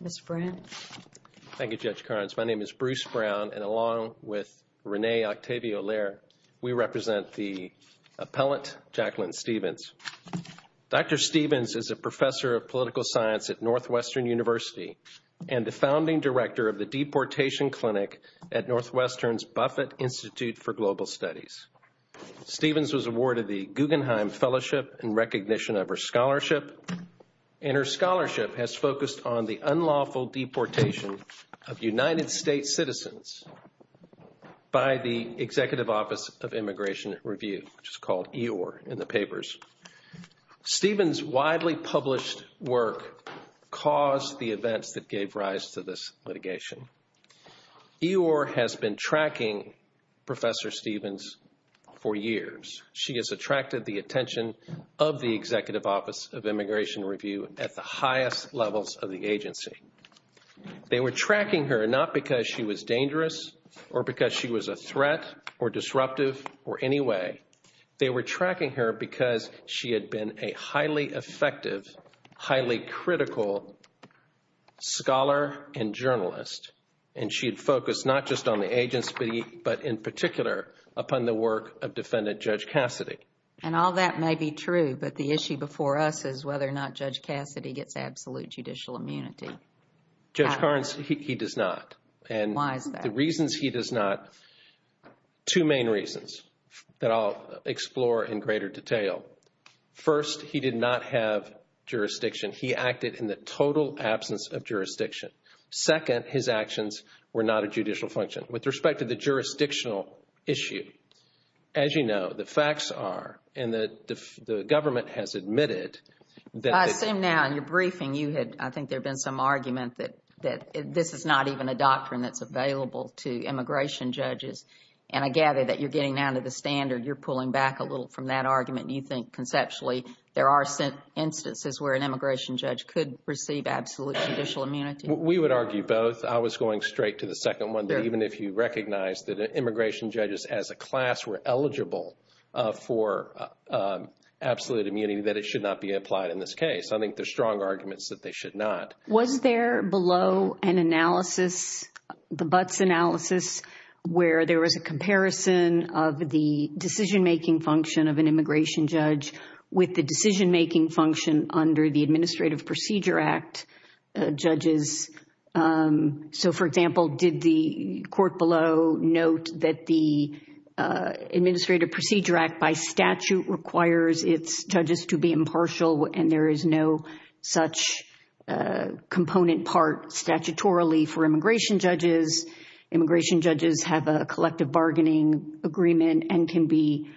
Ms. Brown. Thank you, Judge Carnes. My name is Bruce Brown, and along with Renee Octavia Stevens is a professor of political science at Northwestern University and the founding director of the Deportation Clinic at Northwestern's Buffett Institute for Global Studies. Stevens was awarded the Guggenheim Fellowship in recognition of her scholarship, and her scholarship has focused on the unlawful deportation of United States citizens by the Executive Office of Immigration Review, which is called EOR in the papers. Stevens' widely published work caused the events that gave rise to this litigation. EOR has been tracking Professor Stevens for years. She has attracted the attention of the Executive Office of Immigration Review at the highest levels of the agency. They were tracking her not because she was dangerous or because she was a threat or disruptive or any way. They were tracking her because she had been a highly effective, highly critical scholar and journalist, and she had focused not just on the agency but in particular upon the work of Defendant Judge Cassidy. And all that may be true, but the issue before us is whether or not Judge Cassidy gets absolute judicial immunity. Judge Carnes, he does not. Why is that? The reasons he does not, two main reasons that I'll explore in greater detail. First, he did not have jurisdiction. He acted in the total absence of jurisdiction. Second, his actions were not a judicial function. With respect to the jurisdictional issue, as you know, the facts are, and the government has admitted that they I assume now in your briefing you had, I think there had been some argument that this is not even a doctrine that's available to immigration judges. And I gather that you're getting down to the standard, you're pulling back a little from that argument, and you think conceptually there are instances where an immigration judge could receive absolute judicial immunity. We would argue both. I was going straight to the second one. Even if you recognize that immigration judges as a class were eligible for absolute immunity, that it should not be applied in this case. I think there's strong arguments that they should not. Was there below an analysis, the Butts analysis, where there was a comparison of the decision-making function of an immigration judge with the decision-making function under the Administrative Procedure Act judges? So, for example, did the court below note that the Administrative Procedure Act by statute requires its judges to be impartial and there is no such component part statutorily for immigration judges? Immigration judges have a collective bargaining agreement and can be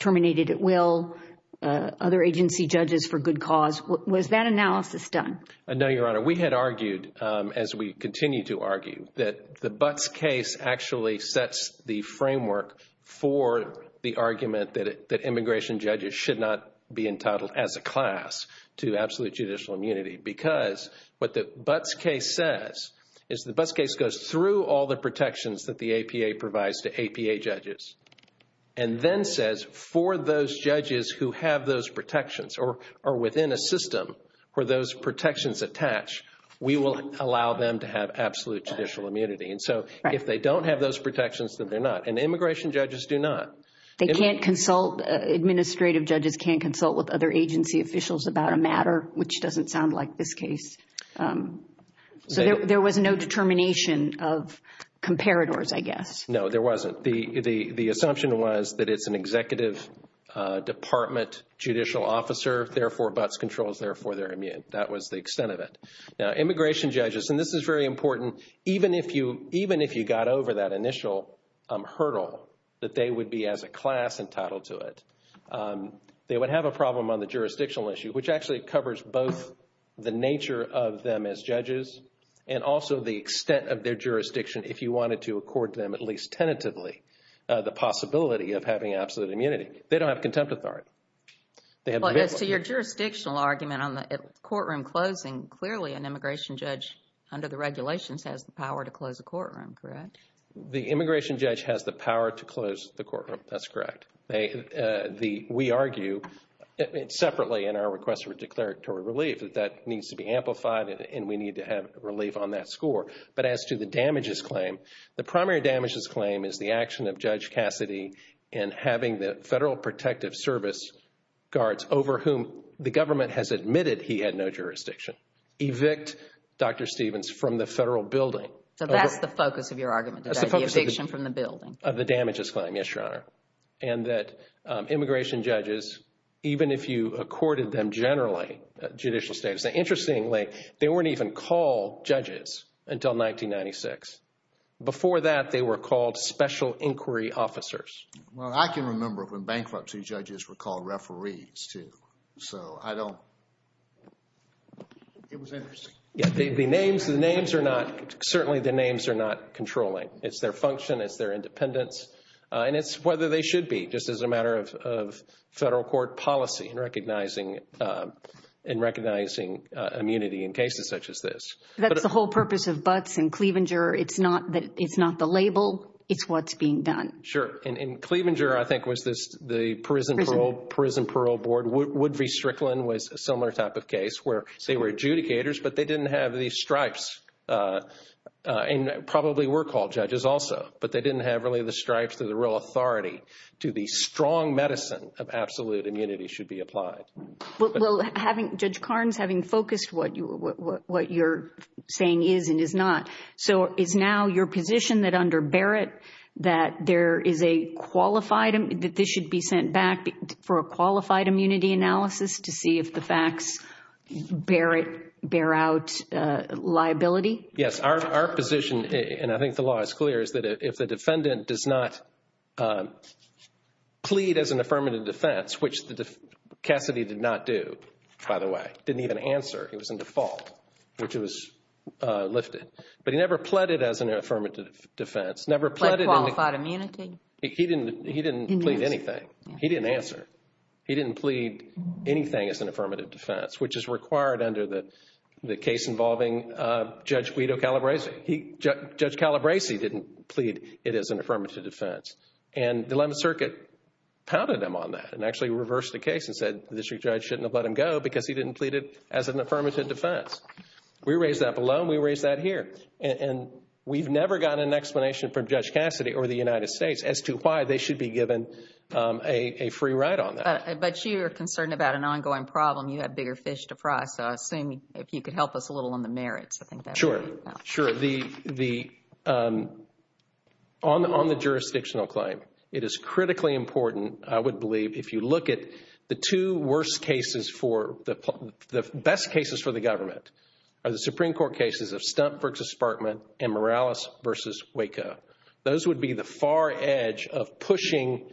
terminated at will. Other agency judges for good cause. Was that analysis done? No, Your Honor. We had argued, as we continue to argue, that the Butts case actually sets the framework for the argument that immigration judges should not be entitled as a class to absolute judicial immunity. Because what the Butts case says is the Butts case goes through all the protections that the APA provides to APA judges. And then says, for those judges who have those protections or are within a system where those protections attach, we will allow them to have absolute judicial immunity. And so if they don't have those protections, then they're not. And immigration judges do not. They can't consult. Administrative judges can't consult with other agency officials about a matter, which doesn't sound like this case. So there was no determination of comparators, I guess. No, there wasn't. The assumption was that it's an executive department judicial officer. Therefore, Butts controls. Therefore, they're immune. That was the extent of it. Now, immigration judges, and this is very important, even if you got over that initial hurdle that they would be as a class entitled to it, they would have a problem on the jurisdictional issue, which actually covers both the nature of them as judges and also the extent of their jurisdiction if you wanted to accord them at least tentatively the possibility of having absolute immunity. They don't have contempt authority. As to your jurisdictional argument on the courtroom closing, clearly an immigration judge under the regulations has the power to close a courtroom, correct? The immigration judge has the power to close the courtroom. That's correct. We argue separately in our request for declaratory relief that that needs to be amplified and we need to have relief on that score. But as to the damages claim, the primary damages claim is the action of Judge Cassidy in having the Federal Protective Service guards, over whom the government has admitted he had no jurisdiction, evict Dr. Stevens from the federal building. So that's the focus of your argument, the eviction from the building? That's the focus of the damages claim, yes, Your Honor. And that immigration judges, even if you accorded them generally judicial status, interestingly, they weren't even called judges until 1996. Before that, they were called special inquiry officers. Well, I can remember when bankruptcy judges were called referees, too. So I don't – it was interesting. The names are not – certainly the names are not controlling. It's their function. It's their independence. And it's whether they should be, just as a matter of federal court policy in recognizing immunity in cases such as this. That's the whole purpose of Butts and Cleavanger. It's not the label. It's what's being done. Sure. And Cleavanger, I think, was the prison parole board. Wood v. Strickland was a similar type of case where they were adjudicators, but they didn't have these stripes and probably were called judges also. But they didn't have really the stripes to the real authority to the strong medicine of absolute immunity should be applied. Well, having – Judge Carnes, having focused what you're saying is and is not, so is now your position that under Barrett that there is a qualified – to see if the facts Barrett – bear out liability? Yes. Our position, and I think the law is clear, is that if the defendant does not plead as an affirmative defense, which Cassidy did not do, by the way. Didn't even answer. He was in default, which was lifted. But he never pleaded as an affirmative defense. Never pleaded – Like qualified immunity? He didn't plead anything. He didn't answer. He didn't plead anything as an affirmative defense, which is required under the case involving Judge Guido Calabresi. Judge Calabresi didn't plead it as an affirmative defense. And the 11th Circuit pounded him on that and actually reversed the case and said the district judge shouldn't have let him go because he didn't plead it as an affirmative defense. We raised that below and we raised that here. And we've never gotten an explanation from Judge Cassidy or the United States as to why they should be given a free ride on that. But you are concerned about an ongoing problem. You have bigger fish to fry. So I assume if you could help us a little on the merits, I think that would help. Sure. Sure. On the jurisdictional claim, it is critically important, I would believe, if you look at the two worst cases for – the best cases for the government are the Supreme Court cases of Stump v. Sparkman and Morales v. Waco. Those would be the far edge of pushing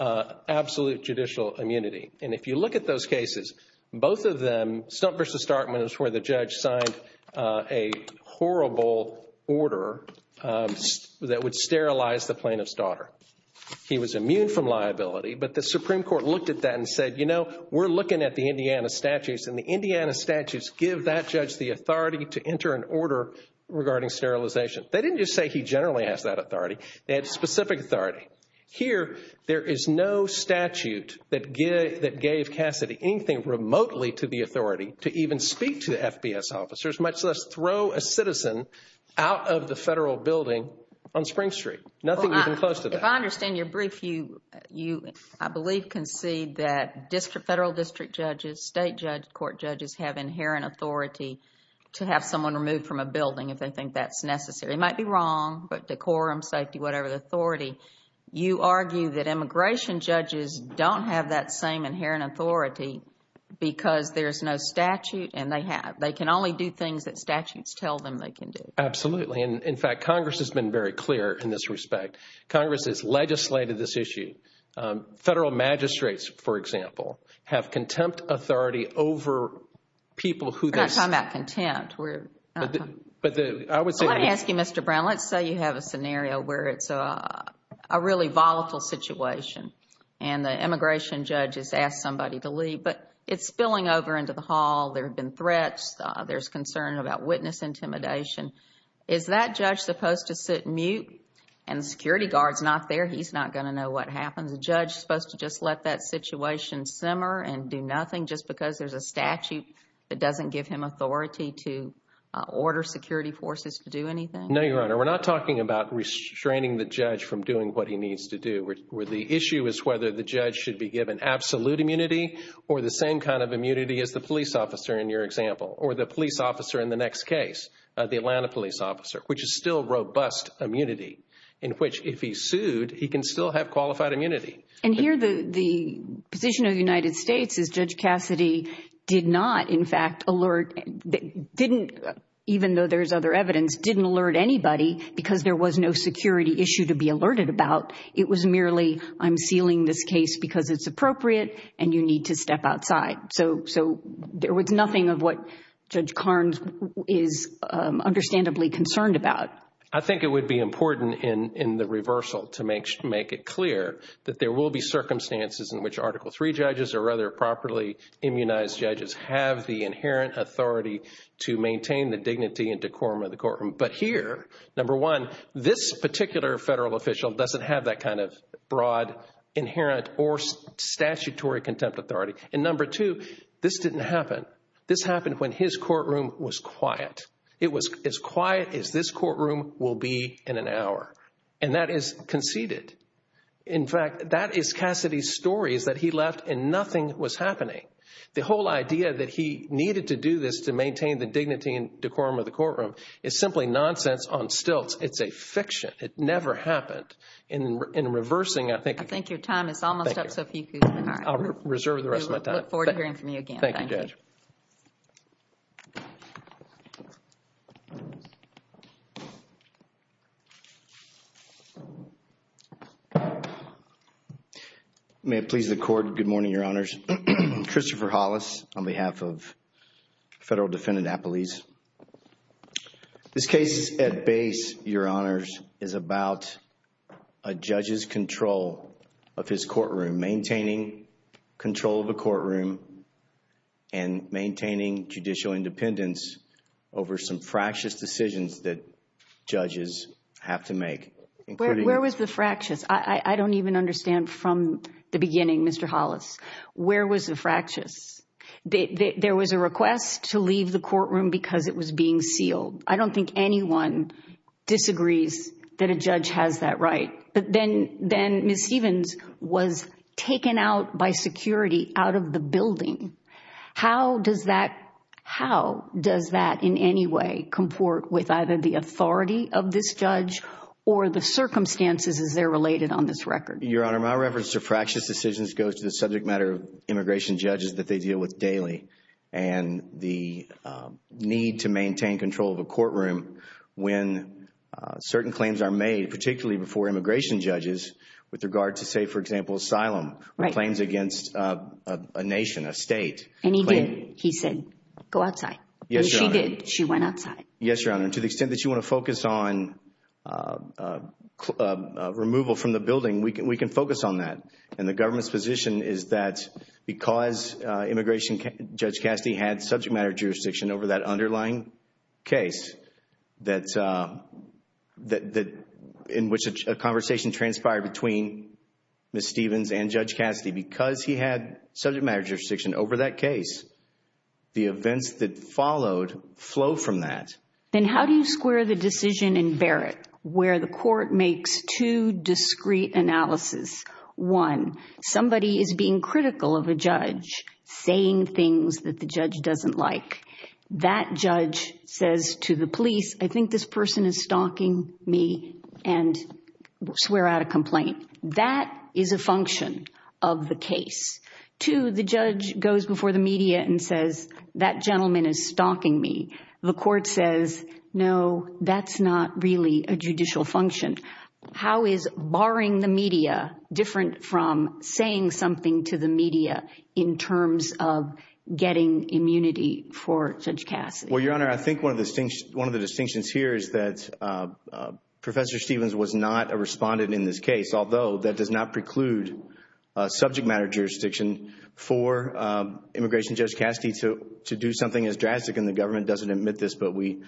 absolute judicial immunity. And if you look at those cases, both of them – Stump v. Sparkman is where the judge signed a horrible order that would sterilize the plaintiff's daughter. He was immune from liability. But the Supreme Court looked at that and said, you know, we're looking at the Indiana statutes. And the Indiana statutes give that judge the authority to enter an order regarding sterilization. They didn't just say he generally has that authority. They had specific authority. Here, there is no statute that gave Cassidy anything remotely to the authority to even speak to the FBS officers, much less throw a citizen out of the federal building on Spring Street. Nothing even close to that. But if I understand your brief, you, I believe, concede that federal district judges, state court judges, have inherent authority to have someone removed from a building if they think that's necessary. They might be wrong, but decorum, safety, whatever, the authority. You argue that immigration judges don't have that same inherent authority because there's no statute, and they have. They can only do things that statutes tell them they can do. Absolutely. In fact, Congress has been very clear in this respect. Congress has legislated this issue. Federal magistrates, for example, have contempt authority over people who they... We're not talking about contempt. Let me ask you, Mr. Brown. Let's say you have a scenario where it's a really volatile situation, and the immigration judge has asked somebody to leave, but it's spilling over into the hall. There have been threats. There's concern about witness intimidation. Is that judge supposed to sit mute and the security guard's not there? He's not going to know what happens. Is the judge supposed to just let that situation simmer and do nothing just because there's a statute that doesn't give him authority to order security forces to do anything? No, Your Honor. We're not talking about restraining the judge from doing what he needs to do. The issue is whether the judge should be given absolute immunity or the same kind of immunity as the police officer in your example or the police officer in the next case, the Atlanta police officer, which is still robust immunity in which if he's sued, he can still have qualified immunity. And here the position of the United States is Judge Cassidy did not, in fact, alert... didn't, even though there's other evidence, didn't alert anybody because there was no security issue to be alerted about. It was merely, I'm sealing this case because it's appropriate and you need to step outside. So there was nothing of what Judge Carnes is understandably concerned about. I think it would be important in the reversal to make it clear that there will be circumstances in which Article III judges or other properly immunized judges have the inherent authority to maintain the dignity and decorum of the courtroom. But here, number one, this particular federal official doesn't have that kind of broad, inherent, or statutory contempt authority. And number two, this didn't happen. This happened when his courtroom was quiet. It was as quiet as this courtroom will be in an hour. And that is conceded. In fact, that is Cassidy's story is that he left and nothing was happening. The whole idea that he needed to do this to maintain the dignity and decorum of the courtroom is simply nonsense on stilts. It's a fiction. It never happened. In reversing, I think... I think your time is almost up, so if you could... I'll reserve the rest of my time. We look forward to hearing from you again. Thank you, Judge. May it please the Court. Good morning, Your Honors. Christopher Hollis on behalf of Federal Defendant Appelese. This case at base, Your Honors, is about a judge's control of his courtroom. Maintaining control of the courtroom and maintaining judicial independence over some fractious decisions that judges have to make. Where was the fractious? I don't even understand from the beginning, Mr. Hollis. Where was the fractious? There was a request to leave the courtroom because it was being sealed. I don't think anyone disagrees that a judge has that right. But then Ms. Stevens was taken out by security out of the building. How does that... How does that in any way comport with either the authority of this judge or the circumstances as they're related on this record? Your Honor, my reference to fractious decisions goes to the subject matter of immigration judges that they deal with daily. And the need to maintain control of a courtroom when certain claims are made, particularly before immigration judges, with regard to, say, for example, asylum. Right. Claims against a nation, a state. And he did. He said, go outside. Yes, Your Honor. And she did. She went outside. Yes, Your Honor. And to the extent that you want to focus on removal from the building, we can focus on that. And the government's position is that because immigration judge Cassidy had subject matter jurisdiction over that underlying case, in which a conversation transpired between Ms. Stevens and Judge Cassidy, because he had subject matter jurisdiction over that case, the events that followed flow from that. Then how do you square the decision in Barrett where the court makes two discreet analyses? One, somebody is being critical of a judge, saying things that the judge doesn't like. That judge says to the police, I think this person is stalking me, and swear out a complaint. That is a function of the case. Two, the judge goes before the media and says, that gentleman is stalking me. The court says, no, that's not really a judicial function. How is barring the media different from saying something to the media in terms of getting immunity for Judge Cassidy? Well, Your Honor, I think one of the distinctions here is that Professor Stevens was not a respondent in this case, although that does not preclude subject matter jurisdiction for immigration judge Cassidy to do something as drastic, and the government doesn't admit this, but we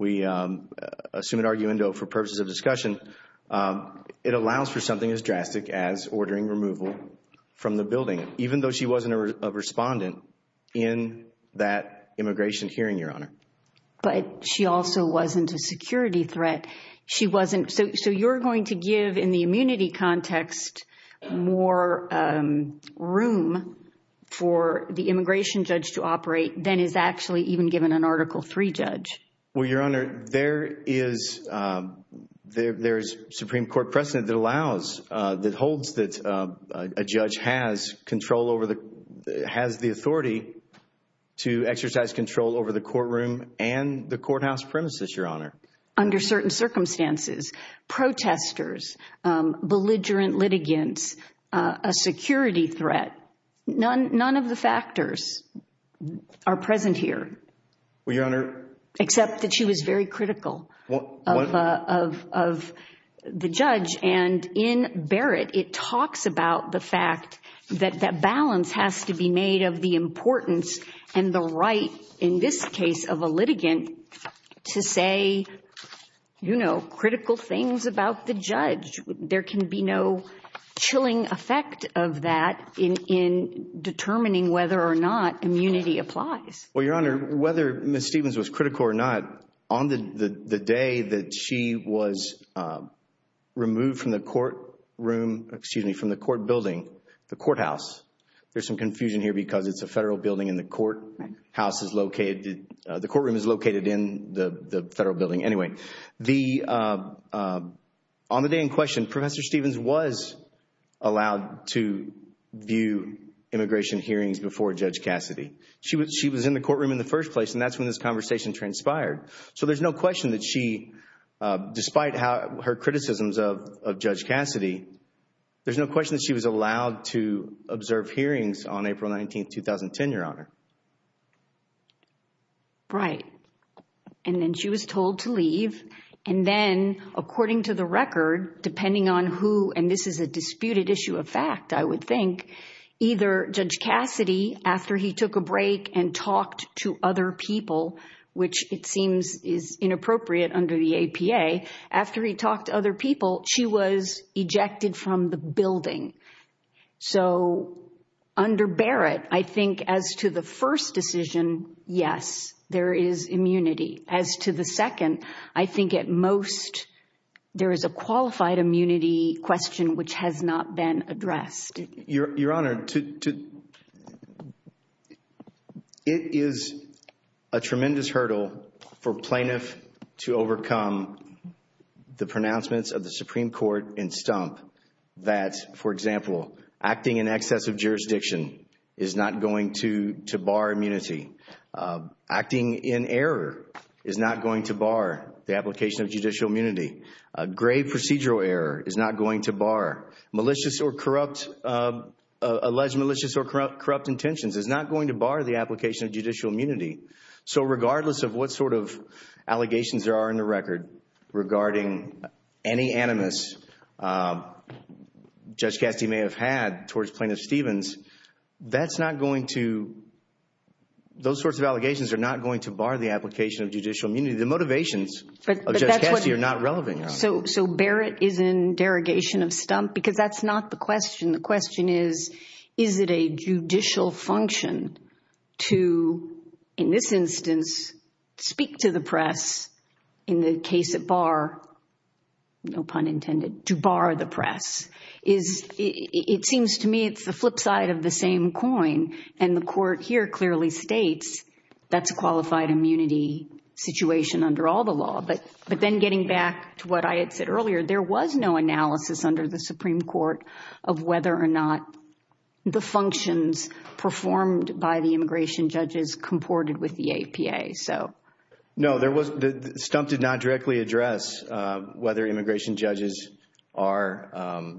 assume an argument for purposes of discussion. It allows for something as drastic as ordering removal from the building, even though she wasn't a respondent in that immigration hearing, Your Honor. But she also wasn't a security threat. So you're going to give, in the immunity context, more room for the immigration judge to operate than is actually even given an Article III judge. Well, Your Honor, there is Supreme Court precedent that holds that a judge has the authority to exercise control over the courtroom and the courthouse premises, Your Honor. Under certain circumstances, protesters, belligerent litigants, a security threat, none of the factors are present here. Well, Your Honor. Except that she was very critical of the judge. And in Barrett, it talks about the fact that that balance has to be made of the importance and the right, in this case of a litigant, to say, you know, critical things about the judge. There can be no chilling effect of that in determining whether or not immunity applies. Well, Your Honor, whether Ms. Stevens was critical or not, on the day that she was removed from the courtroom, excuse me, from the court building, the courthouse. There's some confusion here because it's a federal building and the courthouse is located, the courtroom is located in the federal building. Anyway, on the day in question, Professor Stevens was allowed to view immigration hearings before Judge Cassidy. She was in the courtroom in the first place and that's when this conversation transpired. So there's no question that she, despite her criticisms of Judge Cassidy, there's no question that she was allowed to observe hearings on April 19, 2010, Your Honor. Right. And then, according to the record, depending on who, and this is a disputed issue of fact, I would think, either Judge Cassidy, after he took a break and talked to other people, which it seems is inappropriate under the APA, after he talked to other people, she was ejected from the building. So under Barrett, I think as to the first decision, yes, there is immunity. As to the second, I think at most there is a qualified immunity question which has not been addressed. Your Honor, it is a tremendous hurdle for plaintiffs to overcome the pronouncements of the Supreme Court in stump that, for example, acting in excess of jurisdiction is not going to bar immunity. Acting in error is not going to bar the application of judicial immunity. Grave procedural error is not going to bar. Malicious or corrupt, alleged malicious or corrupt intentions is not going to bar the application of judicial immunity. So regardless of what sort of allegations there are in the record regarding any animus Judge Cassidy may have had towards Plaintiff Stevens, that's not going to, those sorts of allegations are not going to bar the application of judicial immunity. The motivations of Judge Cassidy are not relevant, Your Honor. So Barrett is in derogation of stump because that's not the question. The question is, is it a judicial function to, in this instance, speak to the press in the case at bar, no pun intended, to bar the press? It seems to me it's the flip side of the same coin, and the court here clearly states that's a qualified immunity situation under all the law. But then getting back to what I had said earlier, there was no analysis under the Supreme Court of whether or not the functions performed by the immigration judges comported with the APA. No, there was, stump did not directly address whether immigration judges are,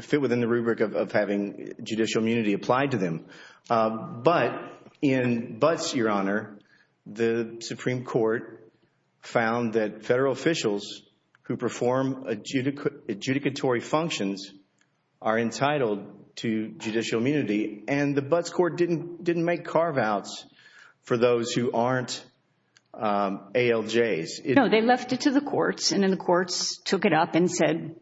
fit within the rubric of having judicial immunity applied to them. But in Butts, Your Honor, the Supreme Court found that federal officials who perform adjudicatory functions are entitled to judicial immunity. And the Butts court didn't make carve-outs for those who aren't ALJs. No, they left it to the courts, and then the courts took it up and said,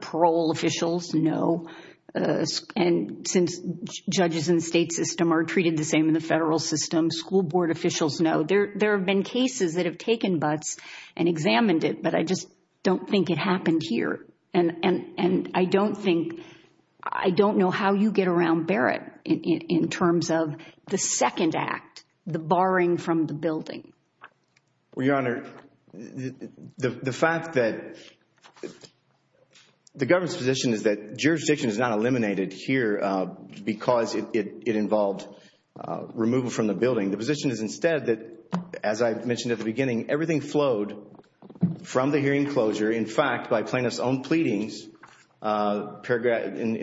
parole officials, no. And since judges in the state system are treated the same in the federal system, school board officials, no. There have been cases that have taken Butts and examined it, but I just don't think it happened here. And I don't think, I don't know how you get around Barrett in terms of the second act, the barring from the building. Well, Your Honor, the fact that, the government's position is that jurisdiction is not eliminated here because it involved removal from the building. The position is instead that, as I mentioned at the beginning, everything flowed from the hearing closure. In fact, by plaintiff's own pleadings, in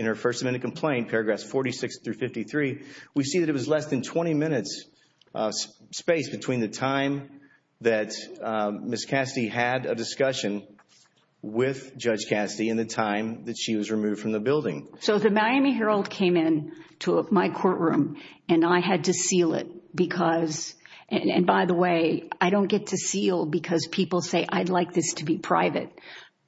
her First Amendment complaint, paragraphs 46 through 53, we see that it was less than 20 minutes space between the time that Ms. Cassidy had a discussion with Judge Cassidy and the time that she was removed from the building. So the Miami Herald came in to my courtroom, and I had to seal it because, and by the way, I don't get to seal because people say, I'd like this to be private.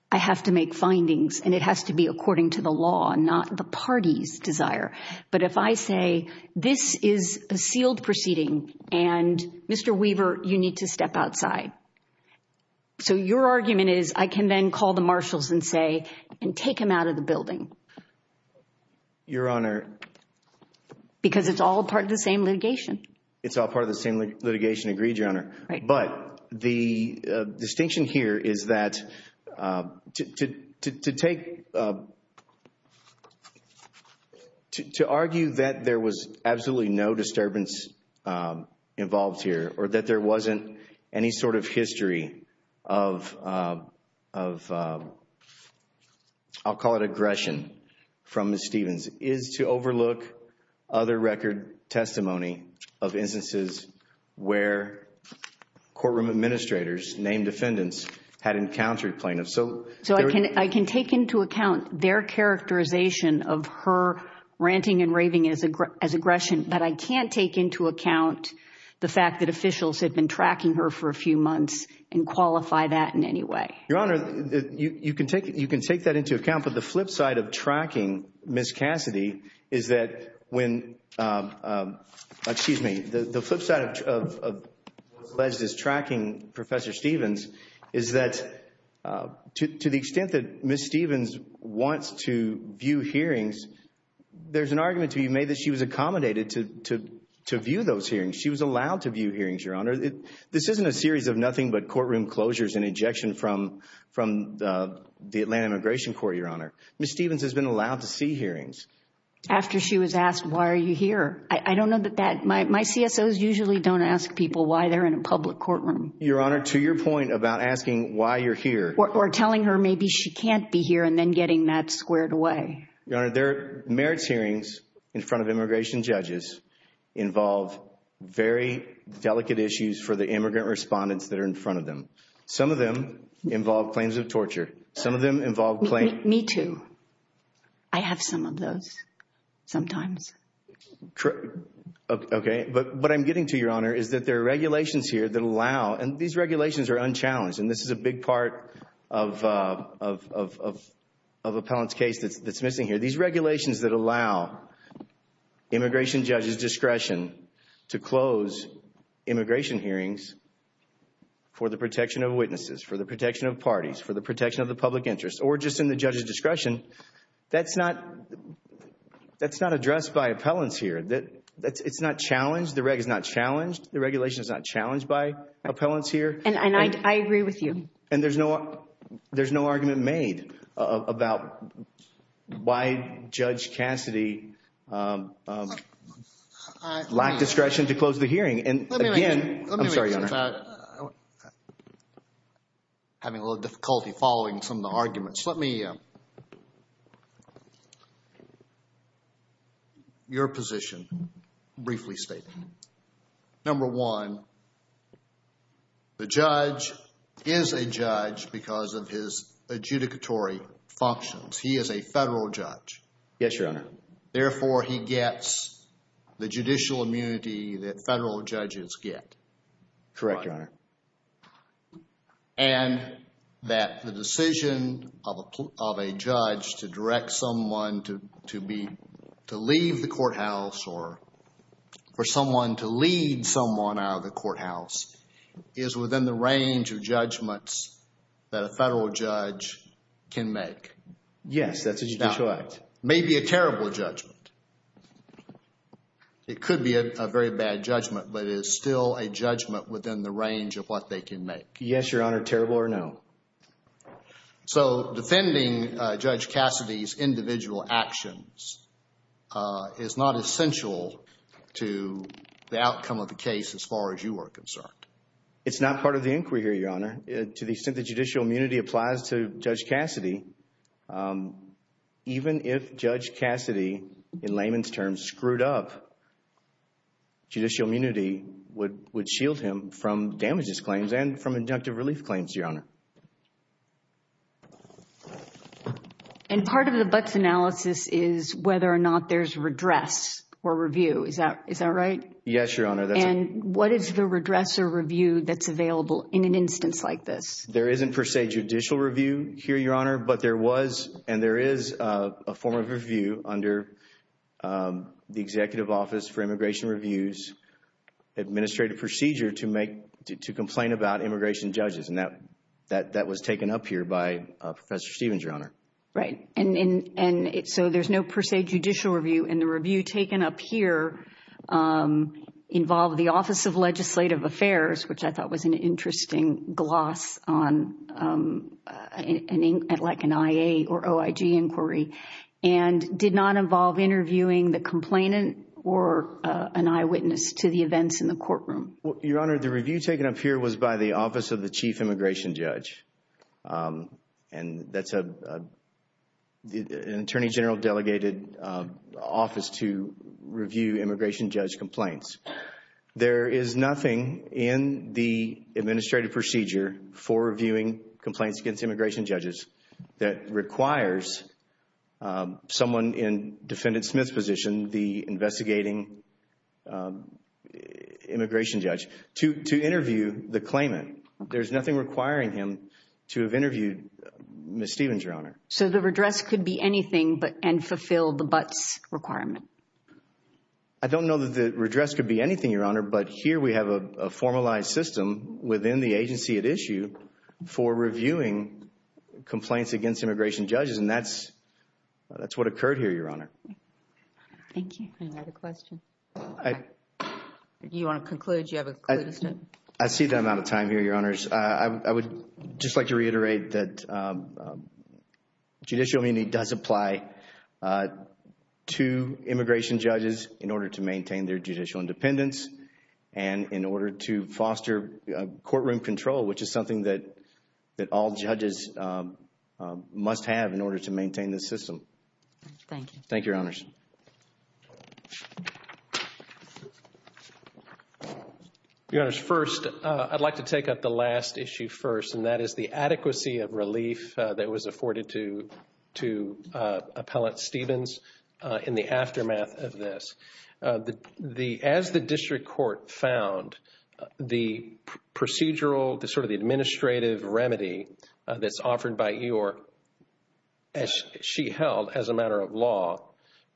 I have to make findings, and it has to be according to the law, not the party's desire. But if I say, this is a sealed proceeding, and Mr. Weaver, you need to step outside. So your argument is, I can then call the marshals and say, and take him out of the building. Your Honor. Because it's all part of the same litigation. It's all part of the same litigation. Agreed, Your Honor. But the distinction here is that to argue that there was absolutely no disturbance involved here, or that there wasn't any sort of history of, I'll call it aggression from Ms. Stevens, is to overlook other record testimony of instances where courtroom administrators named defendants had encountered plaintiffs. So I can take into account their characterization of her ranting and raving as aggression, but I can't take into account the fact that officials had been tracking her for a few months and qualify that in any way. Your Honor, you can take that into account, but the flip side of tracking Ms. Cassidy is that when, excuse me, the flip side of tracking Professor Stevens is that to the extent that Ms. Stevens wants to view hearings, there's an argument to be made that she was accommodated to view those hearings. She was allowed to view hearings, Your Honor. This isn't a series of nothing but courtroom closures and ejection from the Atlanta Immigration Court, Your Honor. Ms. Stevens has been allowed to see hearings. After she was asked, why are you here? I don't know that that, my CSOs usually don't ask people why they're in a public courtroom. Your Honor, to your point about asking why you're here. Or telling her maybe she can't be here and then getting that squared away. Your Honor, there are merits hearings in front of immigration judges involve very delicate issues for the immigrant respondents that are in front of them. Some of them involve claims of torture. Some of them involve claims. Me too. I have some of those sometimes. Okay. But what I'm getting to, Your Honor, is that there are regulations here that allow, and these regulations are unchallenged, and this is a big part of appellant's case that's missing here. These regulations that allow immigration judges' discretion to close immigration hearings for the protection of witnesses, for the protection of parties, for the protection of the public interest, or just in the judge's discretion, that's not addressed by appellants here. It's not challenged. The reg is not challenged. The regulation is not challenged by appellants here. And I agree with you. And there's no argument made about why Judge Cassidy lacked discretion to close the hearing. And, again, I'm sorry, Your Honor. I'm having a little difficulty following some of the arguments. Let me, your position, briefly state. Number one, the judge is a judge because of his adjudicatory functions. He is a federal judge. Yes, Your Honor. Therefore, he gets the judicial immunity that federal judges get. Correct, Your Honor. And that the decision of a judge to direct someone to leave the courthouse or for someone to lead someone out of the courthouse is within the range of judgments that a federal judge can make. Yes, that's a judicial act. Maybe a terrible judgment. It could be a very bad judgment, but it is still a judgment within the range of what they can make. Yes, Your Honor, terrible or no. So defending Judge Cassidy's individual actions is not essential to the outcome of the case as far as you are concerned. It's not part of the inquiry here, Your Honor. To the extent that judicial immunity applies to Judge Cassidy, even if Judge Cassidy, in layman's terms, screwed up, judicial immunity would shield him from damages claims and from injunctive relief claims, Your Honor. And part of the Butts analysis is whether or not there's redress or review. Is that right? Yes, Your Honor. And what is the redress or review that's available in an instance like this? There isn't per se judicial review here, Your Honor, but there was and there is a form of review under the Executive Office for Immigration Reviews administrative procedure to complain about immigration judges, and that was taken up here by Professor Stevens, Your Honor. Right. And so there's no per se judicial review, and the review taken up here involved the Office of Legislative Affairs, which I thought was an interesting gloss on like an IA or OIG inquiry, and did not involve interviewing the complainant or an eyewitness to the events in the courtroom. Your Honor, the review taken up here was by the Office of the Chief Immigration Judge, and that's an Attorney General delegated office to review immigration judge complaints. There is nothing in the administrative procedure for reviewing complaints against immigration judges that requires someone in Defendant Smith's position, the investigating immigration judge, to interview the claimant. There's nothing requiring him to have interviewed Ms. Stevens, Your Honor. So the redress could be anything and fulfill the Butts requirement? I don't know that the redress could be anything, Your Honor, but here we have a formalized system within the agency at issue for reviewing complaints against immigration judges, and that's what occurred here, Your Honor. Thank you. Any other questions? Do you want to conclude? Do you have a conclusion? I see the amount of time here, Your Honors. I would just like to reiterate that judicial immunity does apply to immigration judges in order to maintain their judicial independence and in order to foster courtroom control, which is something that all judges must have in order to maintain this system. Thank you, Your Honors. Thank you, Your Honors. Your Honors, first, I'd like to take up the last issue first, and that is the adequacy of relief that was afforded to Appellant Stevens in the aftermath of this. As the district court found, the procedural, sort of the administrative remedy that's offered by Eeyore, as she held as a matter of law,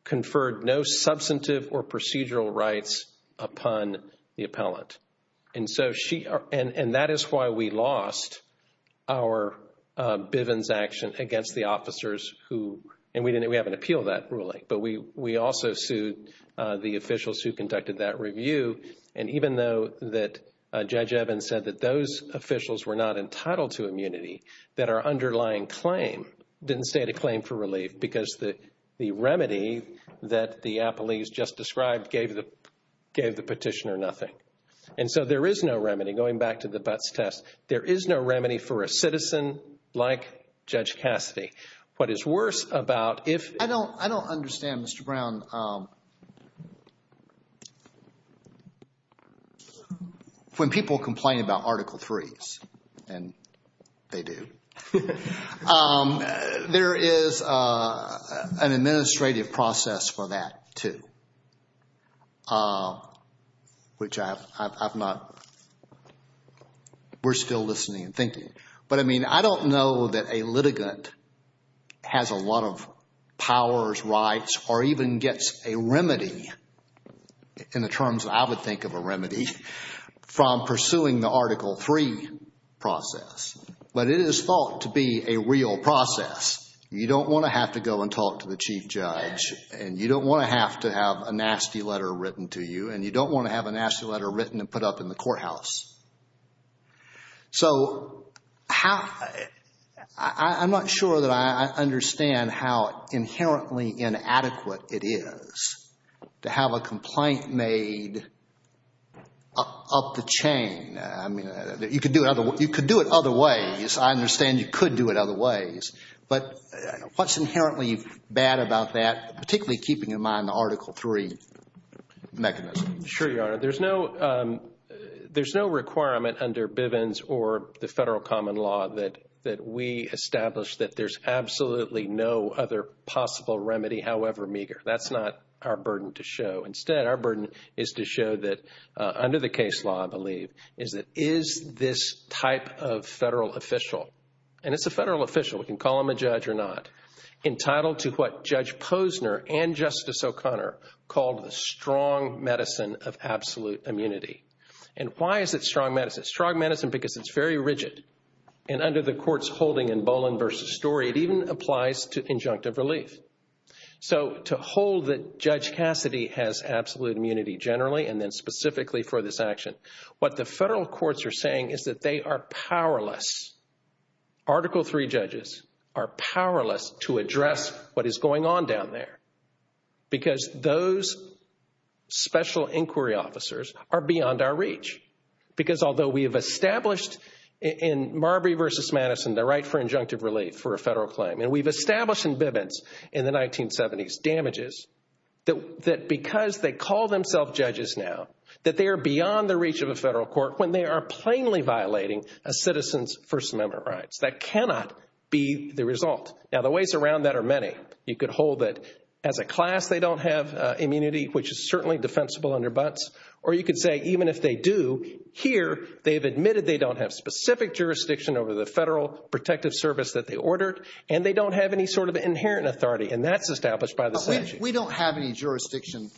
conferred no substantive or procedural rights upon the appellant. And so she, and that is why we lost our Bivens action against the officers who, and we didn't, we haven't appealed that ruling, but we also sued the officials who conducted that review. And even though that Judge Evans said that those officials were not entitled to immunity, that our underlying claim didn't state a claim for relief because the remedy that the appellees just described gave the petitioner nothing. And so there is no remedy, going back to the Butts test, there is no remedy for a citizen like Judge Cassidy. What is worse about if... I don't, I don't understand, Mr. Brown. When people complain about Article 3s, and they do, there is an administrative process for that, too. Which I've not, we're still listening and thinking. But, I mean, I don't know that a litigant has a lot of powers, rights, or even gets a remedy, in the terms I would think of a remedy, from pursuing the Article 3 process. But it is thought to be a real process. You don't want to have to go and talk to the Chief Judge, and you don't want to have to have a nasty letter written to you, and you don't want to have a nasty letter written and put up in the courthouse. So, how, I'm not sure that I understand how inherently inadequate it is to have a complaint made up the chain. I mean, you could do it other ways. I understand you could do it other ways. But what's inherently bad about that, particularly keeping in mind the Article 3 mechanism? Sure, Your Honor. There's no requirement under Bivens or the federal common law that we establish that there's absolutely no other possible remedy, however meager. That's not our burden to show. Instead, our burden is to show that, under the case law, I believe, is that is this type of federal official, and it's a federal official, we can call him a judge or not, entitled to what Judge Posner and Justice O'Connor called the strong medicine of absolute immunity. And why is it strong medicine? Strong medicine because it's very rigid. And under the court's holding in Boland v. Story, it even applies to injunctive relief. So, to hold that Judge Cassidy has absolute immunity generally and then specifically for this action, what the federal courts are saying is that they are powerless, Article 3 judges are powerless to address what is going on down there because those special inquiry officers are beyond our reach. Because although we have established in Marbury v. Madison the right for injunctive relief for a federal claim, and we've established in Bivens in the 1970s damages, that because they call themselves judges now, that they are beyond the reach of a federal court when they are plainly violating a citizen's First Amendment rights. That cannot be the result. Now, the ways around that are many. You could hold that as a class they don't have immunity, which is certainly defensible under Butts, or you could say even if they do, here they've admitted they don't have specific jurisdiction over the federal protective service that they ordered, and they don't have any sort of inherent authority, and that's established by the statute. But we don't have any jurisdiction.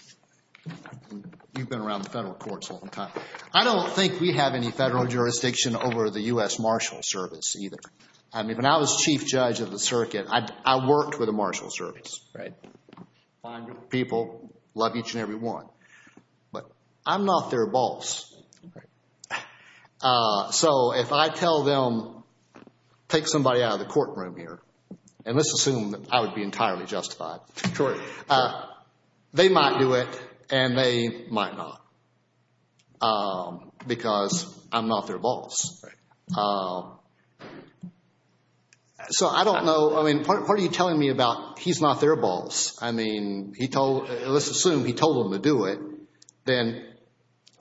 You've been around the federal courts a long time. I don't think we have any federal jurisdiction over the U.S. Marshals Service either. I mean, when I was chief judge of the circuit, I worked with the Marshals Service. Fine people, love each and every one. But I'm not their boss. So if I tell them, take somebody out of the courtroom here, and let's assume that I would be entirely justified, they might do it, and they might not, because I'm not their boss. So I don't know. I mean, what are you telling me about he's not their boss? I mean, let's assume he told them to do it, then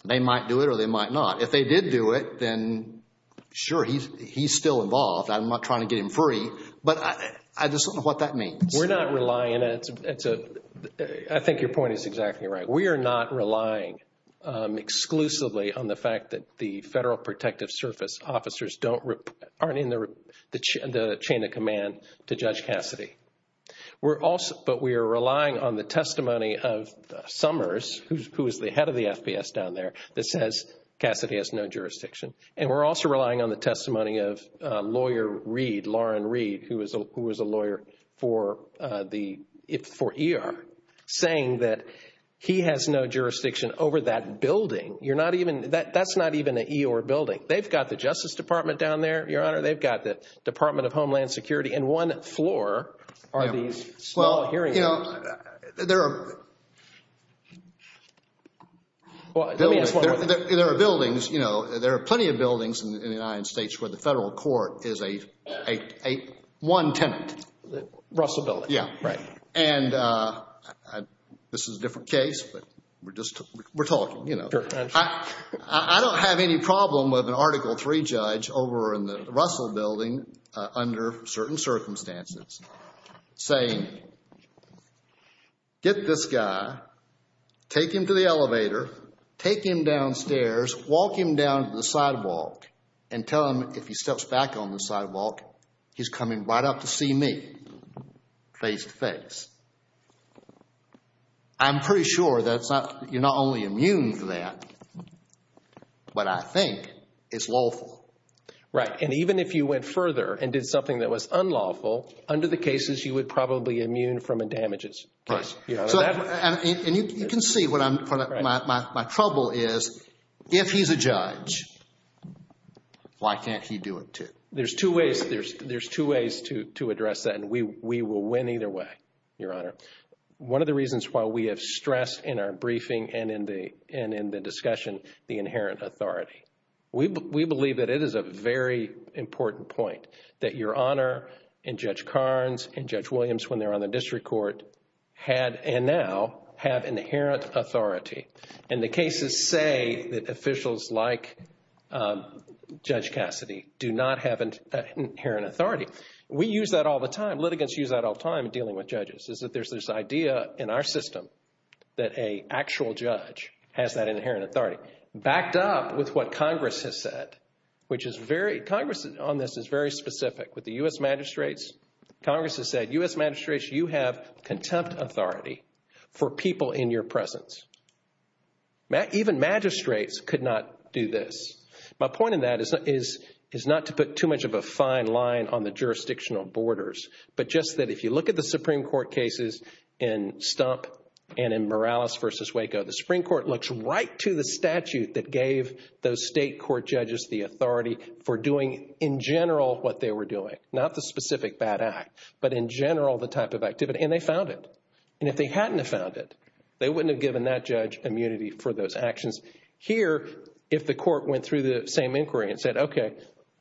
they might do it or they might not. If they did do it, then sure, he's still involved. I'm not trying to get him free, but I just don't know what that means. We're not relying on it. I think your point is exactly right. We are not relying exclusively on the fact that the Federal Protective Service officers aren't in the chain of command to Judge Cassidy. But we are relying on the testimony of Summers, who is the head of the FBS down there, that says Cassidy has no jurisdiction. And we're also relying on the testimony of lawyer Reed, Lauren Reed, who is a lawyer for E.R., saying that he has no jurisdiction over that building. That's not even an E.R. building. They've got the Justice Department down there, Your Honor. They've got the Department of Homeland Security. And one floor are these small hearing rooms. Well, you know, there are buildings, you know, there are plenty of buildings in the United States where the Federal Court is a one tenant. Russell Building. Yeah. Right. And this is a different case, but we're talking, you know. I don't have any problem with an Article III judge over in the Russell Building under certain circumstances saying, get this guy, take him to the elevator, take him downstairs, walk him down to the sidewalk, and tell him if he steps back on the sidewalk, he's coming right up to see me face to face. I'm pretty sure that you're not only immune to that, but I think it's lawful. Right. And even if you went further and did something that was unlawful, under the cases, you would probably be immune from the damages. Right. And you can see what my trouble is. If he's a judge, why can't he do it too? There's two ways to address that, and we will win either way, Your Honor. One of the reasons why we have stress in our briefing and in the discussion, the inherent authority. We believe that it is a very important point that Your Honor and Judge Carnes and Judge Williams, when they're on the district court, had and now have inherent authority. And the cases say that officials like Judge Cassidy do not have inherent authority. We use that all the time, litigants use that all the time in dealing with judges, is that there's this idea in our system that an actual judge has that inherent authority, backed up with what Congress has said, which is very, Congress on this is very specific. With the U.S. magistrates, Congress has said, U.S. magistrates, you have contempt authority for people in your presence. Even magistrates could not do this. My point in that is not to put too much of a fine line on the jurisdictional borders, but just that if you look at the Supreme Court cases in Stump and in Morales v. Waco, the Supreme Court looks right to the statute that gave those state court judges the authority for doing in general what they were doing, not the specific bad act, but in general the type of activity. And they found it. And if they hadn't have found it, they wouldn't have given that judge immunity for those actions. Here, if the court went through the same inquiry and said, okay,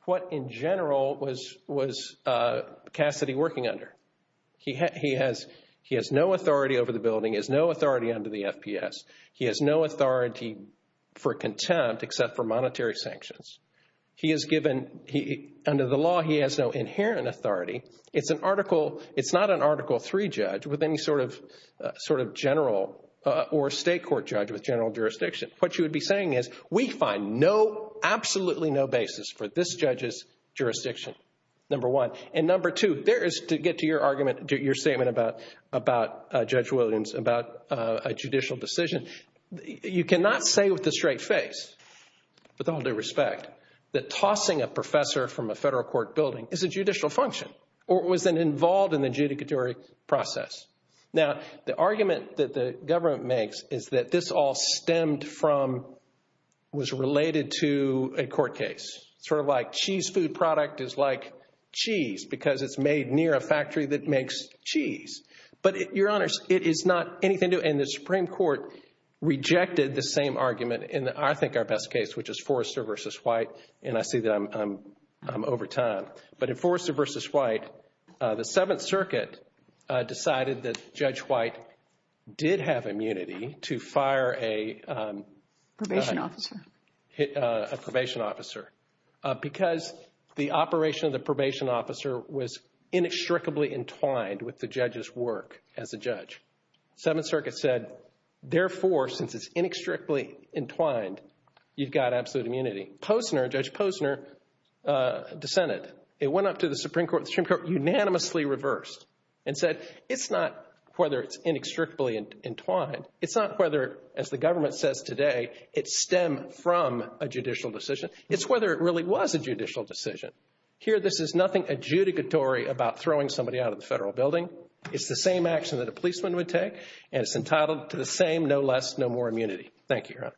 what in general was Cassidy working under? He has no authority over the building. He has no authority under the FPS. He has no authority for contempt except for monetary sanctions. He has given, under the law, he has no inherent authority. It's an article, it's not an Article III judge with any sort of general or state court judge with general jurisdiction. What you would be saying is we find no, absolutely no basis for this judge's jurisdiction, number one. And number two, there is to get to your argument, your statement about Judge Williams, about a judicial decision. You cannot say with a straight face, with all due respect, that tossing a professor from a federal court building is a judicial function or was involved in the adjudicatory process. Now, the argument that the government makes is that this all stemmed from, was related to a court case. It's sort of like cheese food product is like cheese because it's made near a factory that makes cheese. But, Your Honors, it is not anything to do, and the Supreme Court rejected the same argument in, I think, our best case, which is Forrester v. White, and I see that I'm over time. But in Forrester v. White, the Seventh Circuit decided that Judge White did have immunity to fire a probation officer because the operation of the probation officer was inextricably entwined with the judge's work as a judge. Seventh Circuit said, therefore, since it's inextricably entwined, you've got absolute immunity. Posner, Judge Posner, dissented. It went up to the Supreme Court, unanimously reversed, and said it's not whether it's inextricably entwined. It's not whether, as the government says today, it stemmed from a judicial decision. It's whether it really was a judicial decision. Here, this is nothing adjudicatory about throwing somebody out of the federal building. It's the same action that a policeman would take, and it's entitled to the same, no less, no more immunity. Thank you, Your Honor.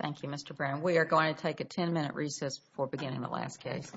Thank you, Mr. Brown. We are going to take a ten-minute recess before beginning the last case.